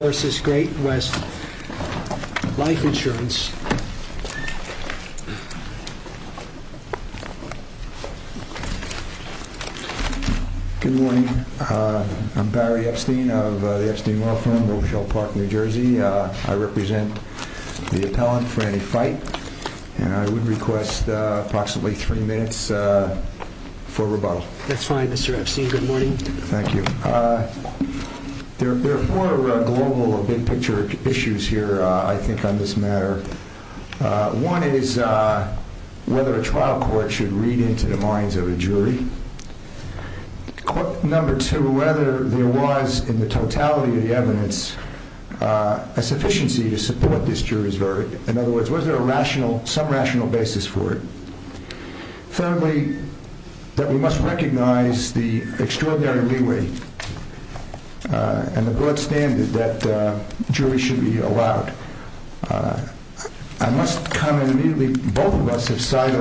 Insurancerising Justice ...versus Great West Life Insurance. Good morning. I'm Barry Epstein of the Epstein Law Firm, Rochelle Park, New Jersey. I represent the appellant, Franny Fite, and I would request approximately three minutes for rebuttal. That's fine, Mr. Epstein. Good morning. Thank you. There are four global, big-picture issues here, I think, on this matter. One is whether a trial court should read into the minds of a jury. Number two, whether there was, in the totality of the evidence, a sufficiency to support this jury's verdict. In other words, was there a rational, some rational basis for it? Thirdly, that we must recognize the extraordinary leeway and the broad standard that juries should be allowed. I must comment immediately, both of us have cited,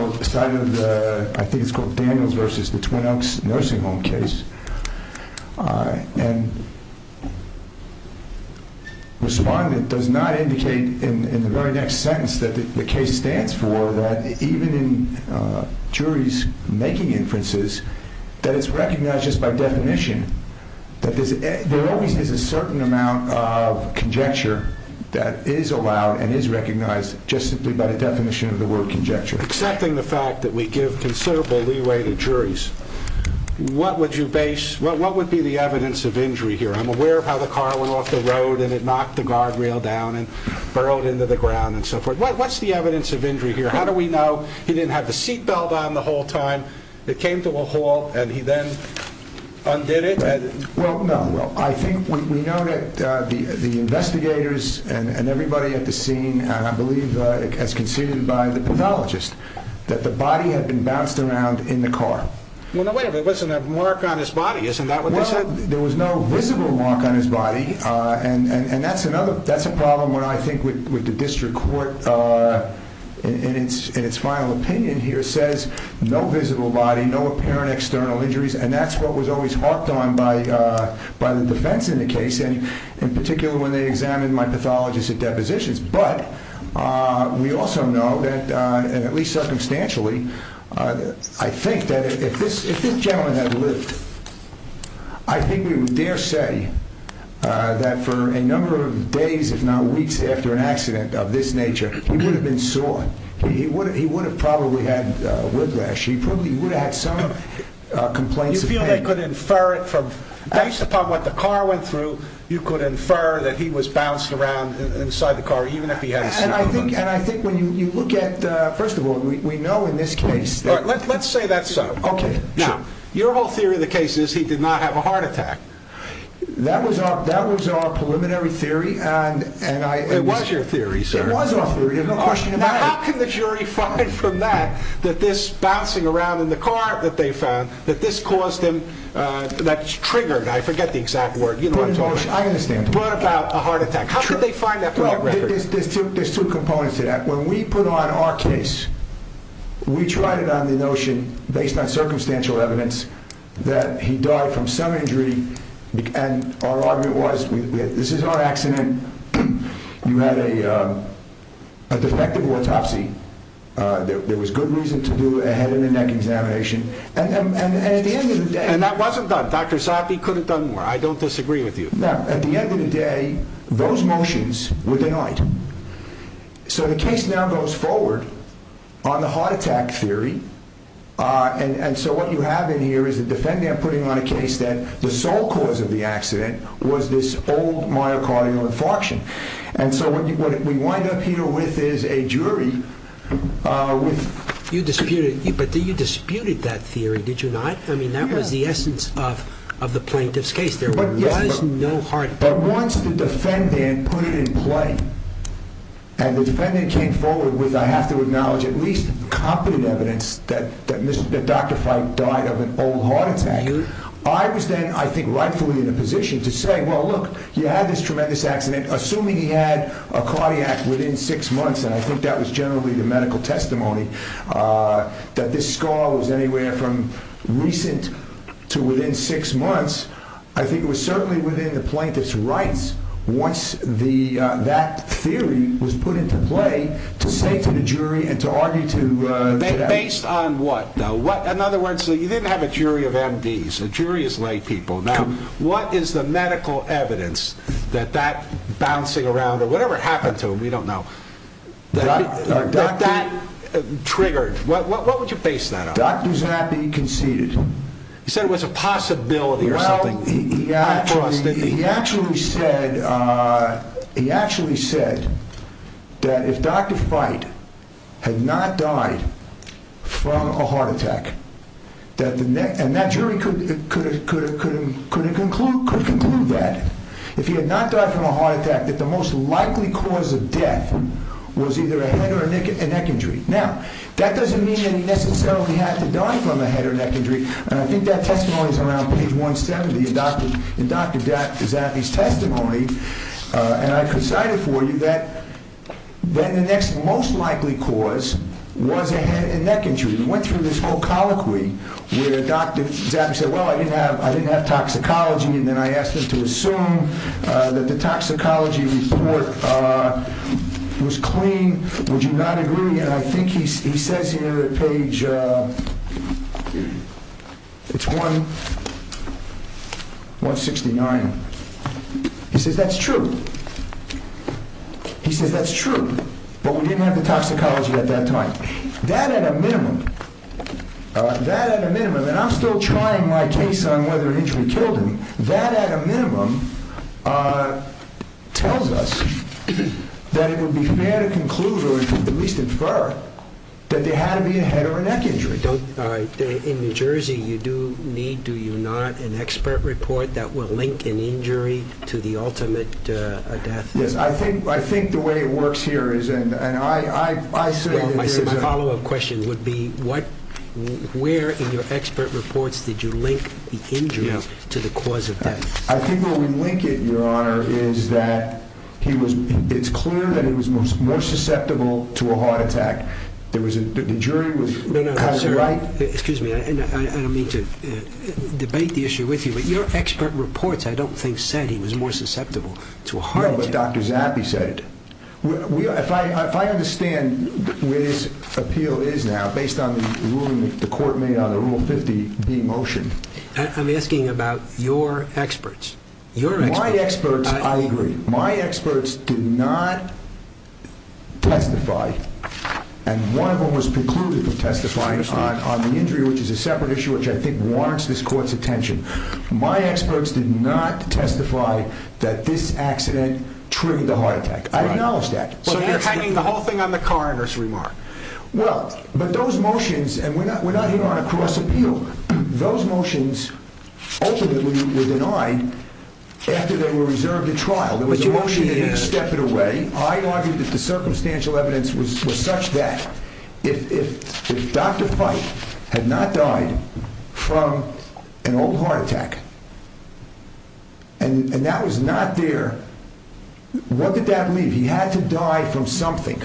I think it's called Daniels versus the Twin Oaks nursing home case, and the respondent does not indicate in the very next sentence that the case stands for, that even in juries making inferences, that it's recognized just by definition, that there always is a certain amount of conjecture that is allowed and is recognized just simply by the definition of the word conjecture. Accepting the fact that we give considerable leeway to juries, what would you base, what would be the evidence of injury here? I'm aware of how the car went off the road and it knocked the guardrail down and burrowed into the ground and so forth. What's the evidence of injury here? How do we know he didn't have the seat belt on the whole time, it came to a halt and he then undid it? Well, no. I think we know that the investigators and everybody at the scene, and I believe as conceded by the pathologist, that the body had been bounced around in the car. Wait a minute, there wasn't a mark on his body, isn't that what they said? There was no visible mark on his body, and that's another, that's a problem when I think with the district court in its final opinion here says no visible body, no apparent external injuries, and that's what was always harped on by the defense in the case, and in particular when they examined my pathologist at depositions. But we also know that, and at least circumstantially, I think that if this gentleman had lived, I think we would dare say that for a number of days, if not weeks, after an accident of this nature, he would have been sawed. He would have probably had a whiplash. He probably would have had some complaints of pain. You feel they could infer it from, based upon what the car went through, you could infer that he was bounced around inside the car even if he had his seat belt on? And I think when you look at, first of all, we know in this case- Let's say that's so. Okay. Now, your whole theory of the case is he did not have a heart attack. That was our preliminary theory, and I- It was your theory, sir. It was our theory, there's no question about it. Now, how can the jury find from that, that this bouncing around in the car that they found, that this caused him, that triggered, I forget the exact word, you know what I'm talking about. I understand. What about a heart attack? How could they find that from your record? There's two components to that. When we put on our case, we tried it on the notion, based on circumstantial evidence, that he died from some injury, and our argument was, this is our accident. You had a defective autopsy. There was good reason to do a head and a neck examination. And at the end of the day- And that wasn't done. Dr. Sothi could have done more. I don't disagree with you. No. At the end of the day, those motions were on the heart attack theory, and so what you have in here is the defendant putting on a case that the sole cause of the accident was this old myocardial infarction. And so what we wind up here with is a jury with- You disputed, but you disputed that theory, did you not? I mean, that was the essence of the plaintiff's case. There was no heart- But once the defendant put it in play, and the defendant came forward with, I have to acknowledge, at least competent evidence that Dr. Fite died of an old heart attack, I was then, I think, rightfully in a position to say, well, look, you had this tremendous accident. Assuming he had a cardiac within six months, and I think that was generally the medical testimony, that this scar was anywhere from recent to within six months. I think it was certainly within the plaintiff's rights once that theory was put into play to say to the jury and to argue to- Based on what, though? In other words, you didn't have a jury of MDs. A jury is lay people. Now, what is the medical evidence that that bouncing around, or whatever it happened to him, we don't know, that that triggered? What would you base that on? Doctor's happy he conceded. He said it was a possibility or something. Well, he actually said that if Dr. Fite had not died from a heart attack, and that jury could conclude that, if he had not died from a heart attack, that the most likely cause of death was either a head or a neck injury. Now, that doesn't mean he necessarily had to die from a head or neck injury, and I think that testimony is around page 170 in Dr. Zappi's testimony, and I could cite it for you that then the next most likely cause was a head and neck injury. We went through this whole colloquy where Dr. Zappi said, well, I didn't have toxicology, and then I asked him to assume that the toxicology report was clean. Would you not agree? And I think he says here at page 169, he says that's true. He says that's true, but we didn't have the toxicology at that time. That at a minimum, that at a minimum, and I'm still trying my case on whether an injury killed him, that at a minimum tells us that it would be fair to conclude, or at least infer, that there had to be a head or a neck injury. All right. In New Jersey, you do need, do you not, an expert report that will link an injury to the ultimate death? Yes. I think the way it works here is, and I say that there's a... Well, my follow-up question would be, where in your expert reports did you link the injuries to the cause of death? I think where we link it, Your Honor, is that he was, it's clear that he was more susceptible to a heart attack. There was a, the jury was... Excuse me. I don't mean to debate the issue with you, but your expert reports, I don't think, said he was more susceptible to a heart attack. No, but Dr. Zappi said it. If I understand what his appeal is now, based on the ruling that the court made on the Rule 50B motion... I'm asking about your experts. Your experts... My experts, I agree. My experts did not testify, and one of them was precluded from testifying on the injury, which is a separate issue, which I think warrants this court's attention. My experts did not testify that this accident triggered the heart attack. I acknowledge that. But you're hiding the whole thing on the coroner's remark. Well, but those motions, and we're not, we're not here on a cross appeal. Those motions ultimately were denied after they were reserved at trial. There was a motion that he stepped away. I argued that the circumstantial evidence was such that if Dr. Pike had not died from an old heart attack, and that was not there, what did that leave? He had to die from something.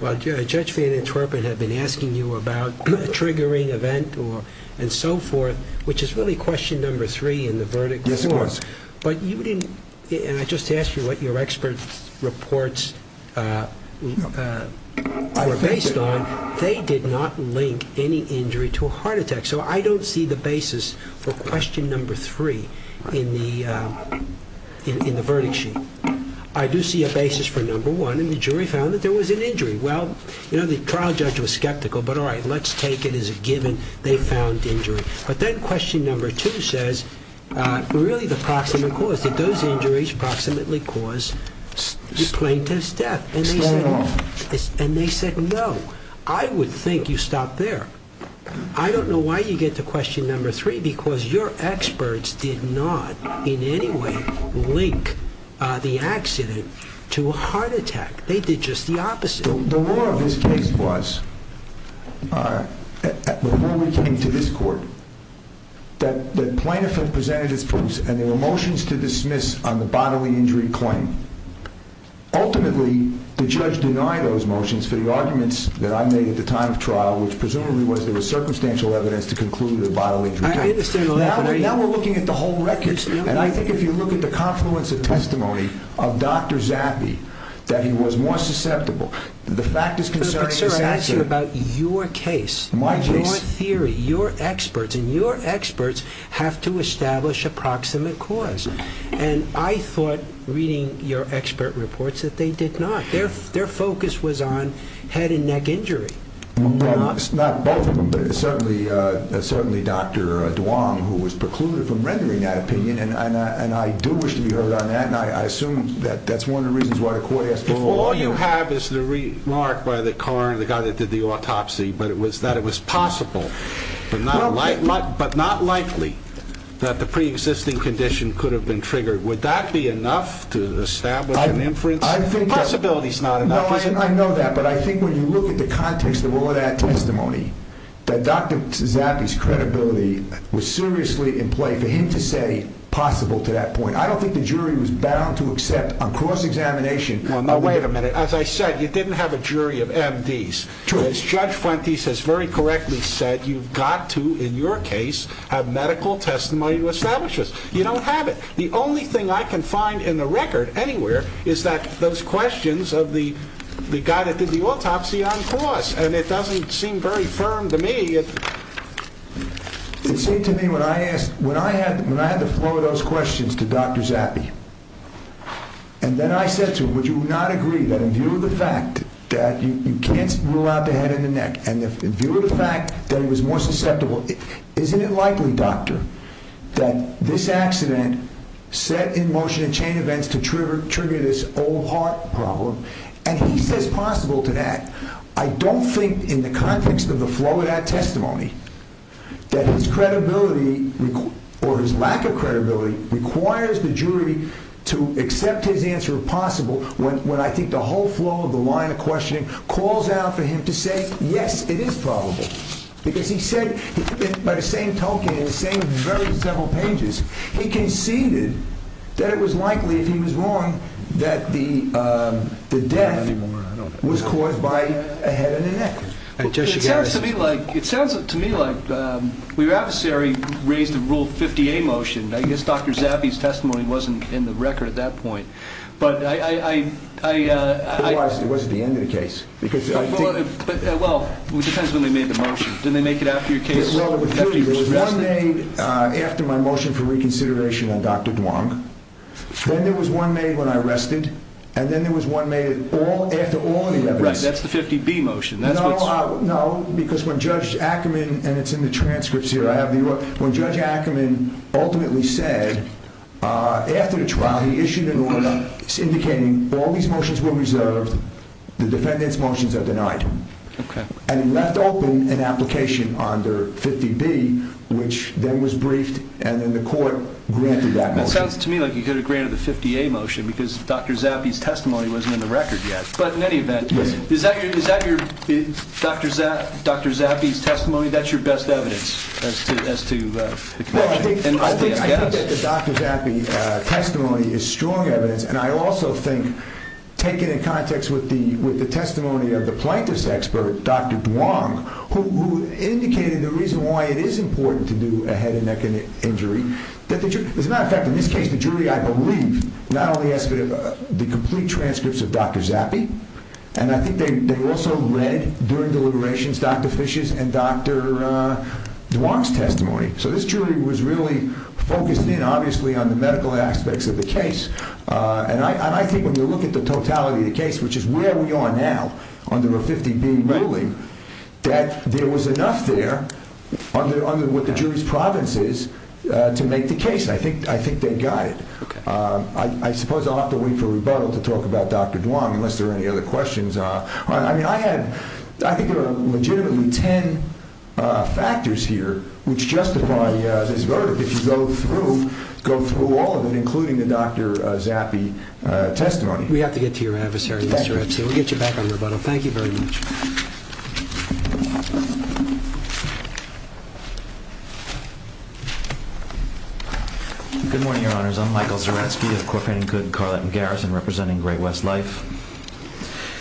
Well, Judge Van Antwerpen had been asking you about triggering event or so forth, which is really question number three in the verdict discourse. Yes, of course. But you didn't, and I just asked you what your experts' reports were based on. They did not link any injury to a heart attack. So I don't see the basis for question number three in the verdict sheet. I do see a basis for number one, and the jury found that there was an injury. Well, you know, the trial judge was skeptical, but all right, let's take it as a given they found injury. But then question number two says, really the proximate cause. Did those injuries approximately cause the plaintiff's death? And they said no. I would think you stopped there. I don't know why you get to question number three, because your experts did not in any way link the accident to a heart attack. They did just the opposite. The rule of this case was before we came to this court, that the plaintiff had presented his proofs and there were motions to dismiss on the bodily injury claim. Ultimately, the judge denied those motions for the arguments that I made at the time of trial, which presumably was there was circumstantial evidence to conclude a bodily injury. Now we're looking at the whole record, and I think if you look at the confluence of testimony of Dr. Zappi, that he was more susceptible. The fact is concerning. Sir, I asked you about your case, your theory, your experts, and your experts have to establish a proximate cause. And I thought reading your expert reports that they did not. Their focus was on head and neck injury. Not both of them, but certainly Dr. Duong, who was precluded from that. And I assume that that's one of the reasons why the court asked. All you have is the remark by the coroner, the guy that did the autopsy, but it was that it was possible, but not likely that the preexisting condition could have been triggered. Would that be enough to establish an inference? I think the possibility is not enough. I know that, but I think when you look at the context of all that testimony, that Dr. Zappi's credibility was seriously in play for him possible to that point. I don't think the jury was bound to accept a cross-examination. Well, no, wait a minute. As I said, you didn't have a jury of MDs. As Judge Fuentes has very correctly said, you've got to, in your case, have medical testimony to establish this. You don't have it. The only thing I can find in the record anywhere is that those questions of the guy that did the autopsy on cross, and it doesn't seem very firm to me. It seemed to me when I asked, when I had the flow of those questions to Dr. Zappi, and then I said to him, would you not agree that in view of the fact that you can't rule out the head and the neck, and in view of the fact that he was more susceptible, isn't it likely, doctor, that this accident set in motion and chain events to trigger this old heart problem? And he says possible to that. I don't think in the context of the flow of that testimony that his credibility or his lack of credibility requires the jury to accept his answer of possible when I think the whole flow of the line of questioning calls out for him to say, yes, it is probable. Because he said, by the same token, in the same very several pages, he conceded that it was likely, if he was wrong, that the death was caused by a head and a neck. It sounds to me like your adversary raised a Rule 50A motion. I guess Dr. Zappi's testimony wasn't in the record at that point. It was at the end of the case. Well, it depends when they made the motion. Did they make it after your case? One made after my motion for reconsideration on Dr. Duong. Then there was one made when I rested. And then there was one made after all the evidence. That's the 50B motion. No, because when Judge Ackerman, and it's in the transcripts here, I have the, when Judge Ackerman ultimately said after the trial, he issued an order indicating all these motions were reserved. The defendant's motions are denied. And he left open an application under 50B, which then was briefed. And then the court granted that motion. It sounds to me like you could have granted the testimony wasn't in the record yet, but in any event, is that your, is that your Dr. Zappi's testimony? That's your best evidence as to, as to the connection. I think that the Dr. Zappi testimony is strong evidence. And I also think taken in context with the, with the testimony of the plaintiff's expert, Dr. Duong, who indicated the reason why it is important to do a head and neck injury. As a matter of fact, in this case, the jury, I believe not only asked for the complete transcripts of Dr. Zappi. And I think they also read during deliberations, Dr. Fish's and Dr. Duong's testimony. So this jury was really focused in obviously on the medical aspects of the case. And I think when you look at the totality of the case, which is where we are now under a 50B ruling, that there was enough there under, under what the jury's province is to make the case. I think, I think they got it. Okay. I suppose I'll have to wait for rebuttal to talk about Dr. Duong, unless there are any other questions. I mean, I had, I think there are legitimately 10 factors here, which justify this verdict. If you go through, go through all of it, including the Dr. Zappi testimony. We have to get to your adversary, Mr. Epstein. We'll get you back on rebuttal. Thank you very much. Good morning, your honors. I'm Michael Zaretsky of Corporation Good, Carlton Garrison, representing Great West Life.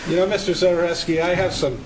You know, Mr. Zaretsky, I have some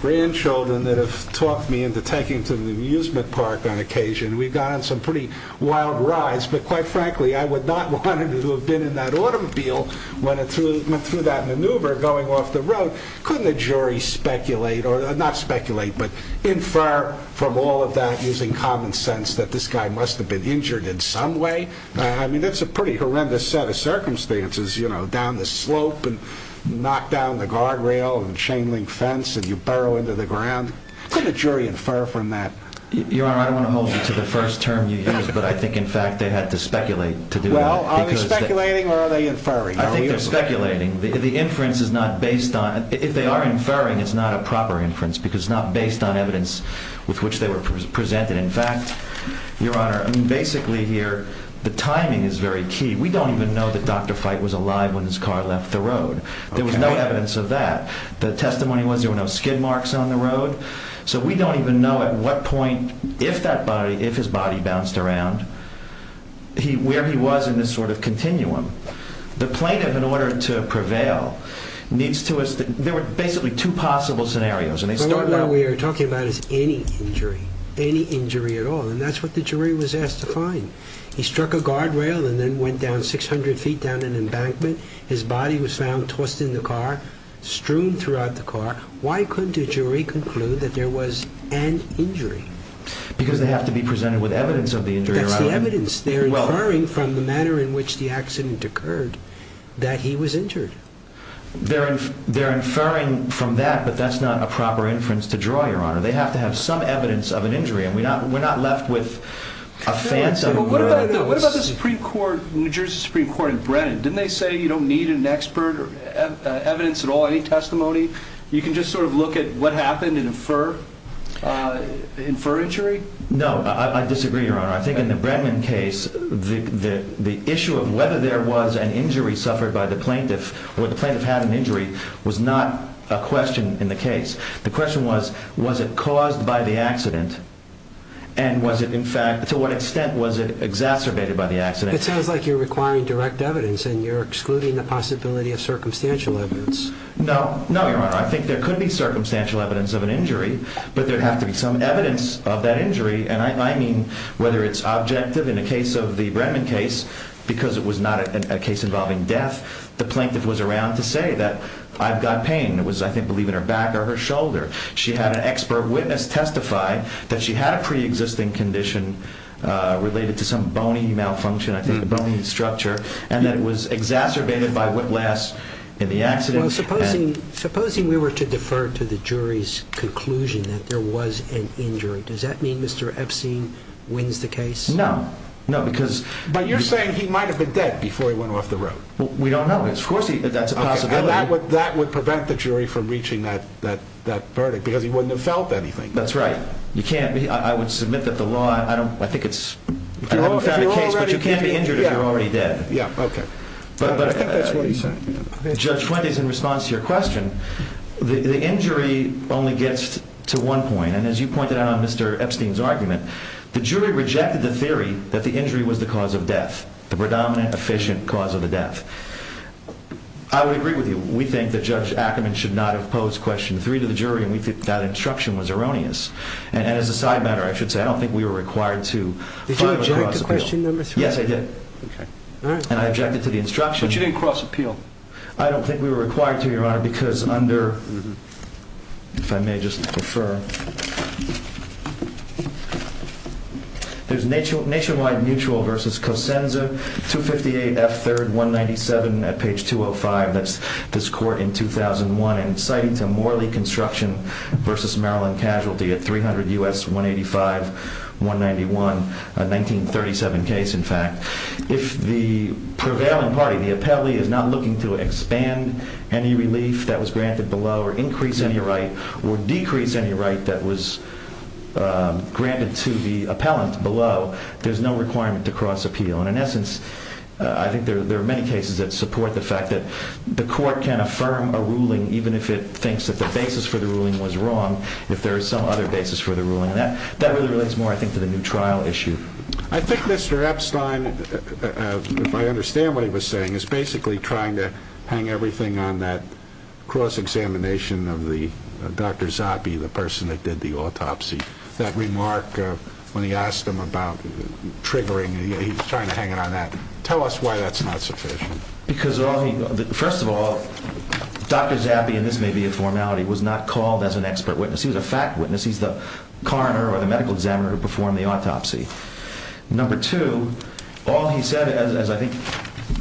grandchildren that have talked me into taking to the amusement park on occasion. We've gone on some pretty wild rides, but quite frankly, I would not want to have that automobile went through, went through that maneuver going off the road. Couldn't the jury speculate or not speculate, but infer from all of that using common sense that this guy must have been injured in some way. I mean, that's a pretty horrendous set of circumstances, you know, down the slope and knock down the guardrail and chain link fence, and you burrow into the ground. Couldn't a jury infer from that? Your honor, I don't want to hold you to the first term you used, but I think in fact they had to speculate to do that. Well, are they speculating or are they inferring? I think they're speculating. The inference is not based on, if they are inferring, it's not a proper inference because it's not based on evidence with which they were presented. In fact, your honor, I mean, basically here, the timing is very key. We don't even know that Dr. Fite was alive when his car left the road. There was no evidence of that. The testimony was there were skid marks on the road. So we don't even know at what point, if his body bounced around, where he was in this sort of continuum. The plaintiff, in order to prevail, needs to, there were basically two possible scenarios. The one we are talking about is any injury, any injury at all, and that's what the jury was asked to find. He struck a guardrail and then went down 600 feet down an embankment. His body was found tossed in the car, strewn throughout the car. Why couldn't a jury conclude that there was an injury? Because they have to be presented with evidence of the injury. That's the evidence. They're inferring from the manner in which the accident occurred that he was injured. They're inferring from that, but that's not a proper inference to draw, your honor. They have to have some evidence of an injury, and we're not left with a fancy. Well, what about the Supreme Court, New Jersey Supreme Court in Brennan? Didn't they say you don't need an expert or evidence at all, any testimony? You can just sort of look at what happened and infer, infer injury? No, I disagree, your honor. I think in the Brennan case, the issue of whether there was an injury suffered by the plaintiff or the plaintiff had an injury was not a question in the case. The question was, was it caused by the accident? And was it, in fact, to what extent was it exacerbated by the accident? It sounds like you're requiring direct evidence and you're excluding the possibility of circumstantial evidence. No, no, your honor. I think there could be circumstantial evidence of an injury, but there'd have to be some evidence of that injury. And I mean, whether it's objective in the case of the Brennan case, because it was not a case involving death, the plaintiff was around to say that I've got pain. It was, I think, believe in her back or her shoulder. She had an expert witness testify that she had a pre-existing condition related to some bony malfunction, I think, a bony structure, and that it was exacerbated by whiplash in the accident. Well, supposing, supposing we were to defer to the jury's conclusion that there was an injury, does that mean Mr. Epstein wins the case? No, no, because, but you're saying he might have been dead before he went off the road. We don't know. Of course, that's a possibility. And that would, that would prevent the jury from reaching that, that, that verdict because he wouldn't have felt anything. That's right. You can't be, I would submit that the law, I don't, I think it's, I haven't found a case, but you can't be injured if you're already dead. Yeah. Okay. But I think that's what he's saying. Judge Fuentes, in response to your question, the injury only gets to one point. And as you pointed out on Mr. Epstein's argument, the jury rejected the theory that the injury was the cause of death, the predominant, efficient cause of the death. I would agree with you. We think that Judge Ackerman should not have posed question three to the jury, and we think that instruction was erroneous. And as a side matter, I should say, I don't think we were required to. Did you object to question number three? Yes, I did. Okay. All right. And I objected to the instruction. But you didn't cross appeal. I don't think we were required to, Your Honor, because under, if I may just refer, there's nationwide mutual versus Cosenza 258 F3rd 197 at page 205. That's this court in 2001, and citing to a Morley Construction versus Maryland Casualty at 300 U.S. 185, 191, a 1937 case, in fact. If the prevailing party, the appellee, is not looking to expand any relief that was granted below or increase any right or decrease any right that was granted to the appellant below, there's no requirement to cross appeal. And in essence, I think there are many cases that support the fact that the court can affirm a ruling even if it thinks that the basis for the ruling was wrong, if there is some other basis for the ruling. And that really relates more, I think, to the new trial issue. I think Mr. Epstein, if I understand what he was saying, is basically trying to hang everything on that cross-examination of Dr. Zappe, the person that did the autopsy. That remark when he asked him about triggering, he's trying to hang it on that. Tell us why that's not sufficient. Because, first of all, Dr. Zappe, and this may be a formality, was not called as an expert witness. He was a fact witness. He's the coroner or the medical examiner who performed the autopsy. Number two, all he said, as I think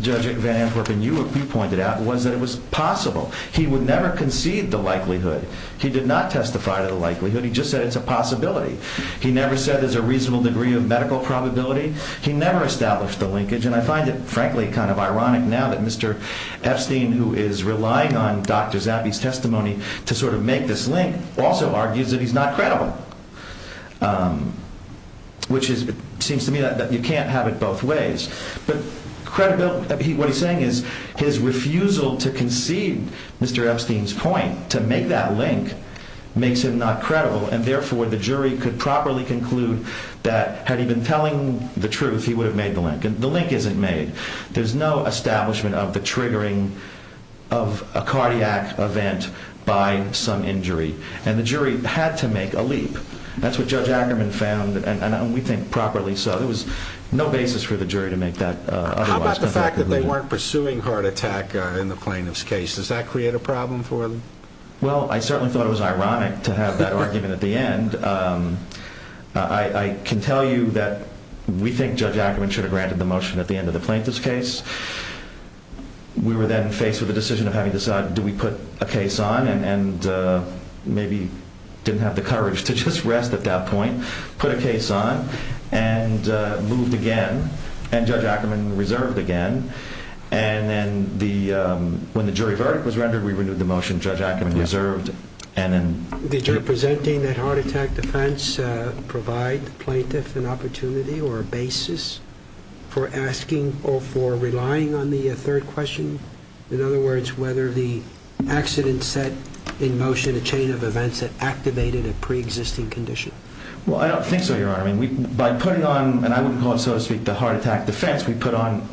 Judge Van Antwerpen, you pointed out, was that it was possible. He would never concede the likelihood. He did not testify to the likelihood. He just said it's a possibility. He never said there's a reasonable degree of medical probability. He never established the linkage. And I find it, frankly, kind of ironic now that Mr. Epstein, who is relying on Dr. Zappe's testimony to sort of make this link, also argues that he's not credible, which seems to me that you can't have it both ways. But what he's saying is his refusal to concede Mr. Epstein's point, to make that link, makes him not credible. And therefore, the jury could properly conclude that had he been telling the truth, he would have made the link. And the link isn't made. There's no establishment of the triggering of a cardiac event by some injury. And the jury had to make a leap. That's what Judge Ackerman found, and we think properly so. There was no basis for the jury to make that otherwise. How about the fact that they weren't pursuing heart attack in the plaintiff's case? Does that create a problem for them? Well, I certainly thought it was ironic to have that argument at the end. I can tell you that we think Judge Ackerman should have granted the motion at the end of the plaintiff's case. We were then faced with the decision of having to decide, do we put a case on and maybe didn't have the courage to just rest at that point, put a case on, and moved again, and Judge Ackerman reserved again. And then when the jury verdict was rendered, we renewed the motion. Judge Ackerman reserved. Did your presenting that heart attack defense provide the plaintiff an opportunity or a basis for asking or for relying on the third question? In other words, whether the accident set in motion a chain of events that activated a preexisting condition? Well, I don't think so, Your Honor. By putting on, and I wouldn't call it, so to speak, the heart attack defense, we put on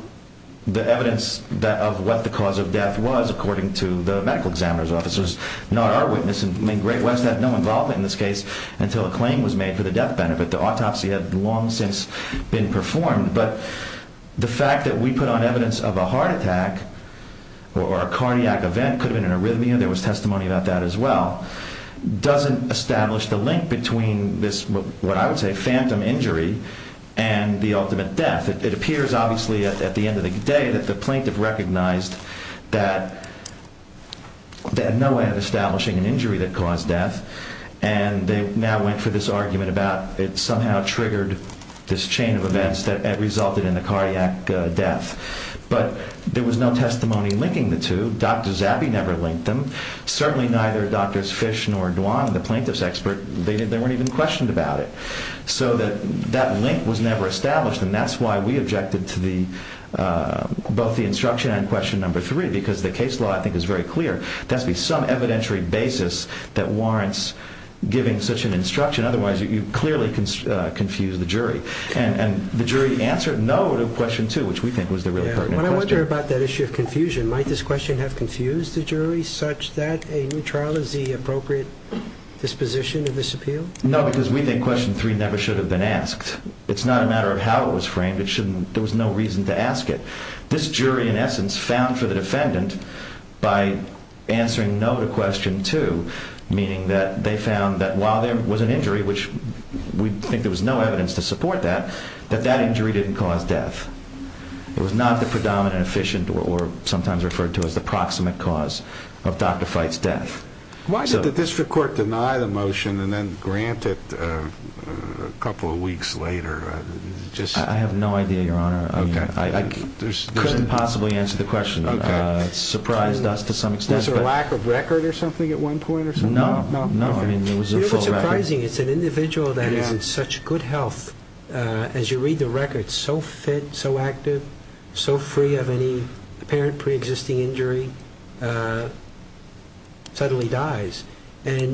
the evidence of what the cause of death was, according to the medical examiner's offices, not our witness. I mean, Great West had no involvement in this case until a claim was made for the death benefit. The autopsy had long since been performed. But the fact that we put on evidence of a heart attack or a cardiac event, could have been an arrhythmia, there was testimony about that as well, doesn't establish the link between this, what I would say, phantom injury and the ultimate death. It appears, obviously, at the end of the day, that the plaintiff recognized that they had no way of establishing an injury that caused death. And they now went for this argument about it somehow triggered this chain of events that resulted in the cardiac death. But there was no testimony linking the two. Dr. Zabby never linked them. Certainly neither Drs. Fish nor Duan, the plaintiff's expert, they weren't even questioned about it. So that link was never established. And that's why we objected to both the instruction and question number three, because the case law, I think, is very clear. There has to be some evidentiary basis that warrants giving such an instruction. Otherwise, you clearly confuse the jury. And the jury answered no to question two, which we think was the really pertinent question. When I wonder about that issue of confusion, might this question have confused the jury such that a new trial is the appropriate disposition of this appeal? No, because we think question three never should have been asked. It's not a matter of how it was framed. There was no reason to ask it. This jury, in essence, found for the defendant by answering no to question two, meaning that they found that while there was an injury, which we think there was no evidence to support that, that that injury didn't cause death. It was not the predominant, inefficient, or sometimes referred to as the proximate cause of Dr. Fite's death. Why did the district court deny the motion and then grant it a couple of weeks later? I have no idea, Your Honor. I couldn't possibly answer the question. It surprised us to some extent. Was there a lack of record or something at one point or something? No. No. I mean, it was a full record. It's surprising. It's an individual that is in such good health, as you read the record, so fit, so active, so free of any apparent pre-existing injury, suddenly dies, and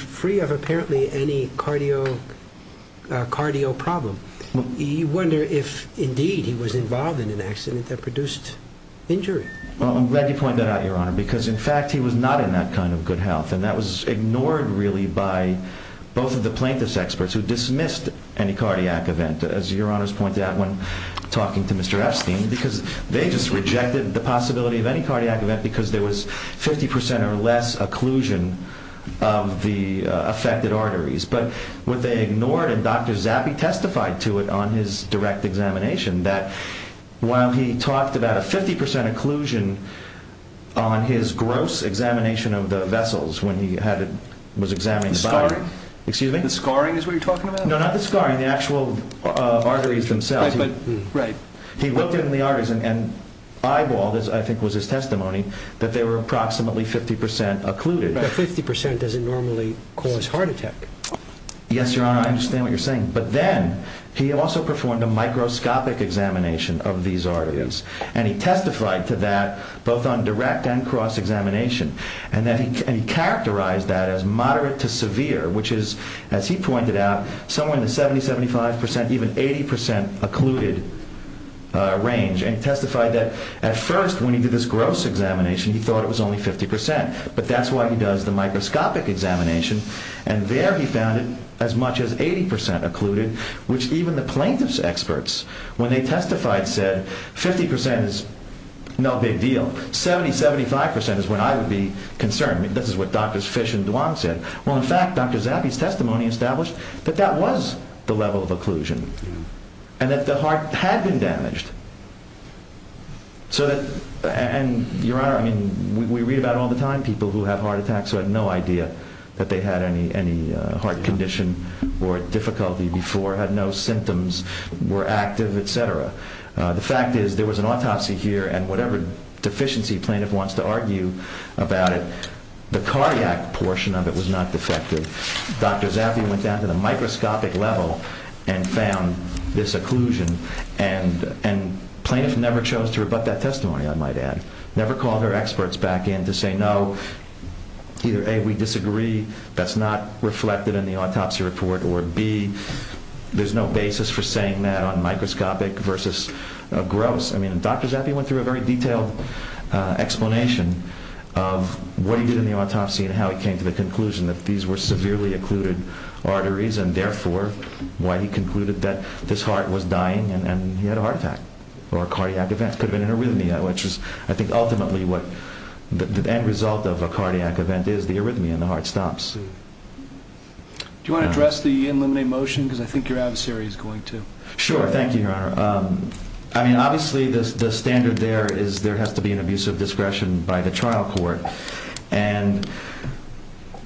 free of apparently any cardio problem. You wonder if, indeed, he was involved in an accident that produced injury. Well, I'm glad you pointed that out, Your Honor, because, in fact, he was not in that kind of good health. And that was ignored, really, by both of the plaintiff's experts who dismissed any cardiac event, as Your Honor's pointed out when talking to Mr. Epstein, because they just rejected the possibility of any cardiac event because there was 50 percent or less occlusion of the affected arteries. But what they ignored, and Dr. Zappe testified to it on his direct examination, that while he talked about a 50 percent occlusion on his gross examination of the vessels when he was examining the body. The scarring? Excuse me? The scarring is what you're talking about? No, not the scarring. The actual arteries themselves. He looked in the arteries and eyeballed, as I think was his testimony, that they were approximately 50 percent occluded. But 50 percent doesn't normally cause heart attack. Yes, Your Honor. I understand what you're saying. But then he also performed a microscopic examination of these arteries. And he testified to that, both on direct and cross examination. And he characterized that as moderate to severe, which is, as he pointed out, somewhere in the 70, 75 percent, even 80 percent occluded range. And he testified that at first when he did this gross examination, he thought it was only 50 percent. But that's why he does the microscopic examination. And there he found it as much as 80 percent occluded, which even the plaintiff's experts, when they testified, said 50 percent is no big deal. 70, 75 percent is when I would be concerned. This is what Drs. Fish and Duong said. Well, in fact, Dr. Zappi's testimony established that that was the level of occlusion and that the heart had been damaged. So that, and Your Honor, I mean, we read about it all the time, people who have heart attacks who had no idea that they had any heart condition or difficulty before, had no symptoms, were active, et cetera. The fact is there was an autopsy here and whatever deficiency plaintiff wants to argue about it, the cardiac portion of it was not defective. Dr. Zappi went down to the microscopic level and found this occlusion. And plaintiff never chose to rebut that testimony, I might add. Never called her experts back in to say, no, either, A, we disagree, that's not reflected in the autopsy report, or, B, there's no basis for saying that on microscopic versus gross. I mean, Dr. Zappi went through a very detailed explanation of what he did in the autopsy and how he came to the conclusion that these were severely occluded arteries and, therefore, why he concluded that this heart was dying and he had a heart attack or cardiac events, could have been arrhythmia, which is, I think, ultimately what the end result of a cardiac event is, the arrhythmia in the heart stops. Do you want to address the in limine motion? Because I think your adversary is going to. Sure, thank you, Your Honor. I mean, obviously, the standard there is there has to be an abuse of discretion by the trial court. And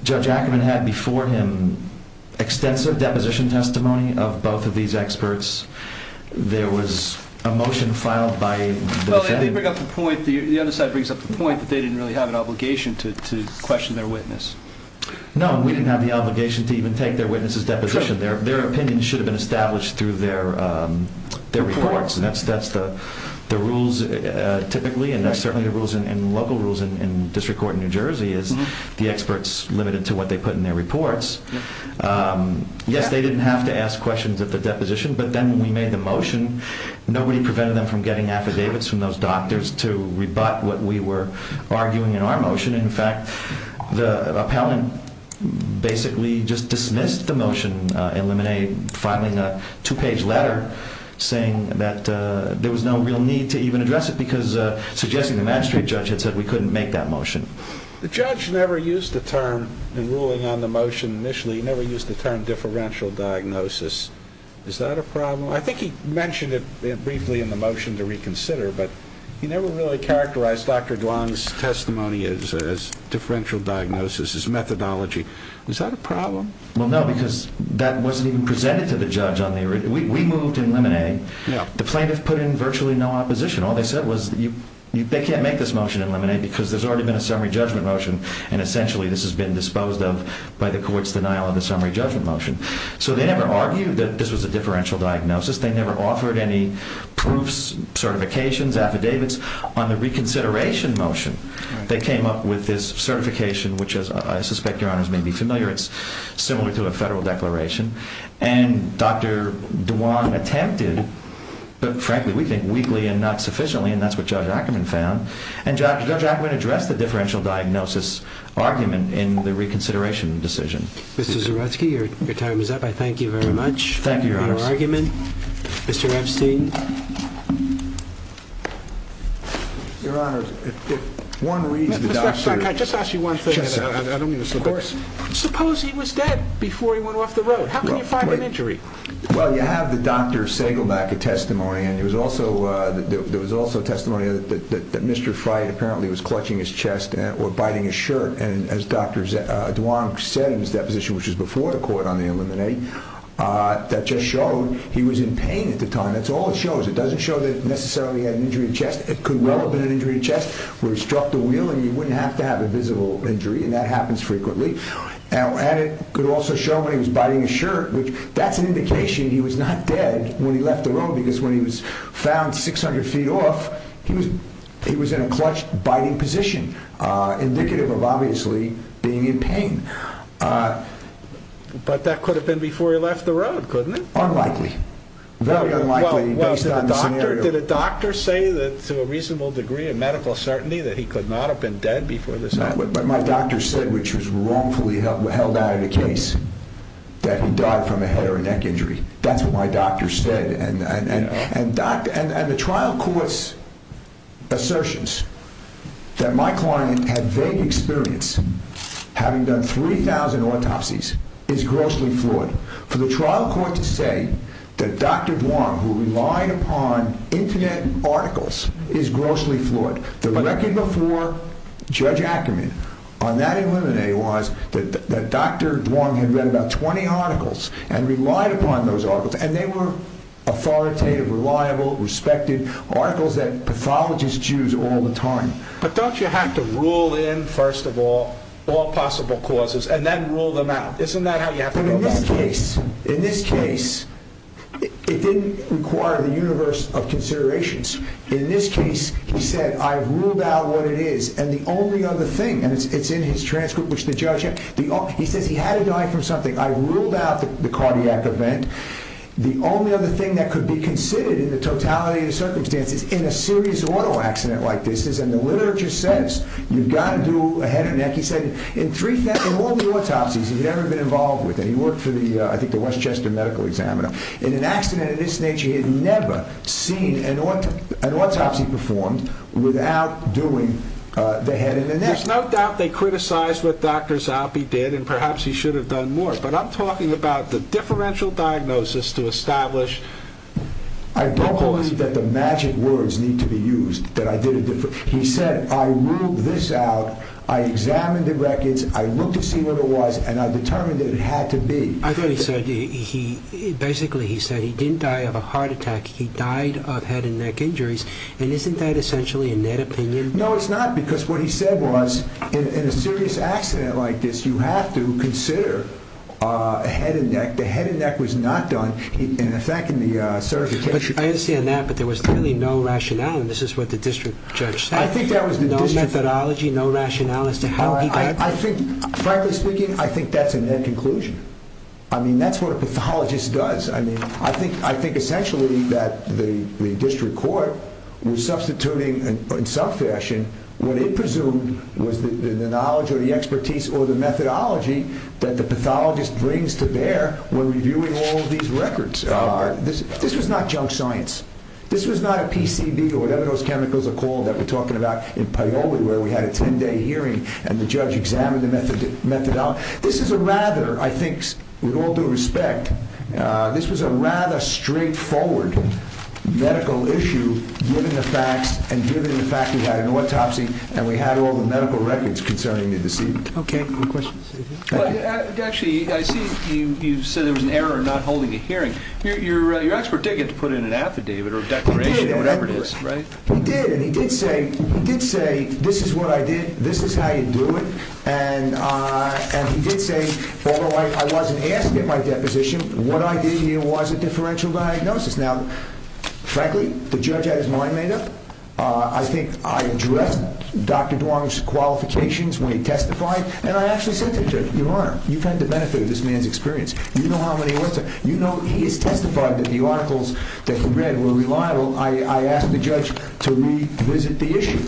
Judge Ackerman had before him extensive deposition testimony of both of these experts. There was a motion filed by the defendant. The other side brings up the point that they didn't really have an obligation to question their witness. No, we didn't have the obligation to even take their witness's deposition. Their opinion should have been established through their reports. And that's the rules, typically, and that's certainly the rules and local rules in district court in New Jersey, is the experts limited to what they put in their reports. Yes, they didn't have to ask questions at the deposition, but then when we made the motion, nobody prevented them from getting affidavits from those doctors to rebut what we were arguing in our motion. In fact, the appellant basically just dismissed the motion in limine, filing a two-page letter saying that there was no real need to even address it because suggesting the magistrate judge had said we couldn't make that motion. The judge never used the term in ruling on the motion initially. He never used the term differential diagnosis. Is that a problem? I think he mentioned it briefly in the motion to reconsider, but he never really characterized Dr. Duong's testimony as differential diagnosis, as methodology. Is that a problem? Well, no, because that wasn't even presented to the judge on the original. We moved in limine. The plaintiff put in virtually no opposition. All they said was they can't make this motion in limine because there's already been a summary judgment motion, and essentially this has been disposed of by the court's denial of the summary judgment motion. So they never argued that this was a differential diagnosis. They never offered any proofs, certifications, affidavits. On the reconsideration motion, they came up with this certification, which as I suspect your honors may be familiar, it's similar to a federal declaration. And Dr. Duong attempted, but frankly, we think weakly and not sufficiently, and that's what Judge Ackerman found. And Judge Ackerman addressed the differential diagnosis argument in the reconsideration decision. Mr. Zerutsky, your time is up. I thank you very much for your argument. Thank you, your honors. Mr. Epstein. Your honors, if one reads the document... Mr. Zerutsky, can I just ask you one thing? Yes, sir. I don't mean to slip it. Of course. Suppose he was dead before he went off the road. How can you find an injury? Well, you have the Dr. Sagelbeck testimony, and there was also testimony that Mr. Frey apparently was clutching his chest or biting his shirt. And as Dr. Duong said in his deposition, which was before the court on the Illuminati, that just showed he was in pain at the time. That's all it shows. It doesn't show that necessarily he had an injury to the chest. It could well have been an injury to the chest where he struck the wheel and he wouldn't have to have a visible injury, and that happens frequently. And it could also show when he was biting his shirt, which that's an indication he was not dead when he left the road, because when he was found 600 feet off, he was in a clutch biting position, indicative of obviously being in pain. But that could have been before he left the road, couldn't it? Unlikely. Very unlikely, based on the scenario. Well, did a doctor say that, to a reasonable degree of medical certainty, that he could not have been dead before this happened? But my doctor said, which was wrongfully held out of the case, that he died from a head or a neck injury. That's what my doctor said. And the trial court's assertions that my client had vague experience, having done 3,000 autopsies, is grossly flawed. For the trial court to say that Dr. Duong, who relied upon infinite articles, is grossly flawed. The record before Judge Ackerman on that eliminae was that Dr. Duong had read about 20 articles and relied upon those articles. And they were authoritative, reliable, respected articles that pathologists use all the time. But don't you have to rule in, first of all, all possible causes, and then rule them out? Isn't that how you have to rule them out? In this case, it didn't require the universe of considerations. In this case, he said, I've ruled out what it is. And the only other thing, and it's in his transcript, which the judge, he says he had to die from something. I've ruled out the cardiac event. The only other thing that could be considered in the totality of the circumstances in a serious auto accident like this is, and the literature says, you've got to do a head or neck. He said, in all the autopsies he'd ever been involved with, and he worked for, I think, the Westchester Medical Examiner. In an accident of this nature, he had never seen an autopsy performed without doing the head and the neck. There's no doubt they criticized what Dr. Zalpi did, and perhaps he should have done more. But I'm talking about the differential diagnosis to establish... I don't believe that the magic words need to be used, that I did a differential. He said, I ruled this out, I examined the records, I looked to see what it was, and I determined that it had to be. I thought he said, basically he said, he didn't die of a heart attack. He died of head and neck injuries, and isn't that essentially a net opinion? No, it's not, because what he said was, in a serious accident like this, you have to consider a head and neck. The head and neck was not done, in effect, in the certification. I understand that, but there was really no rationale, and this is what the district judge said. No methodology, no rationale as to how he... I think, frankly speaking, I think that's a net conclusion. I mean, that's what a pathologist does. I think, essentially, that the district court was substituting, in some fashion, what it presumed was the knowledge, or the expertise, or the methodology that the pathologist brings to bear when reviewing all of these records. This was not junk science. This was not a PCB, or whatever those chemicals are called, that we're talking about in Paoli, where we had a 10-day hearing, and the judge examined the methodology. This is a rather, I think, with all due respect, this was a rather straightforward medical issue, given the facts, and given the fact we had an autopsy, and we had all the medical records concerning the deceased. Okay. Any questions? Actually, I see you said there was an error in not holding a hearing. Your expert did get to put in an affidavit, or a declaration, or whatever it is, right? He did, and he did say, this is what I did, this is how you do it, and he did say, although I wasn't asked at my deposition, what I did here was a differential diagnosis. Now, frankly, the judge had his mind made up. I think I addressed Dr. Duong's qualifications when he testified, and I actually said to him, Your Honor, you've had the benefit of this man's experience. You know how many orders, you know he has testified that the articles that he read were reliable. I asked the judge to revisit the issue,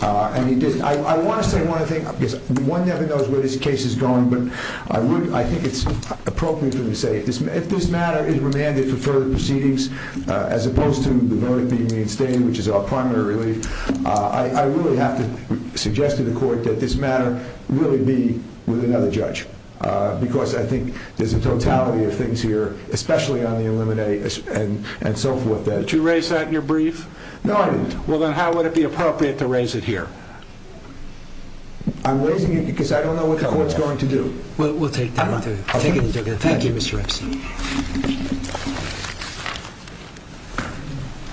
and he did. I want to say one other thing, because one never knows where this case is going, but I think it's appropriate for me to say, if this matter is remanded for further proceedings, as opposed to the verdict being reinstated, which is our primary relief, I really have to suggest to the court that this matter really be with another judge, because I think there's a totality of things here, especially on the Illuminati, and so forth. Did you raise that in your brief? No, I didn't. Well, then how would it be appropriate to raise it here? I'm raising it because I don't know what the court's going to do. Well, we'll take that into consideration.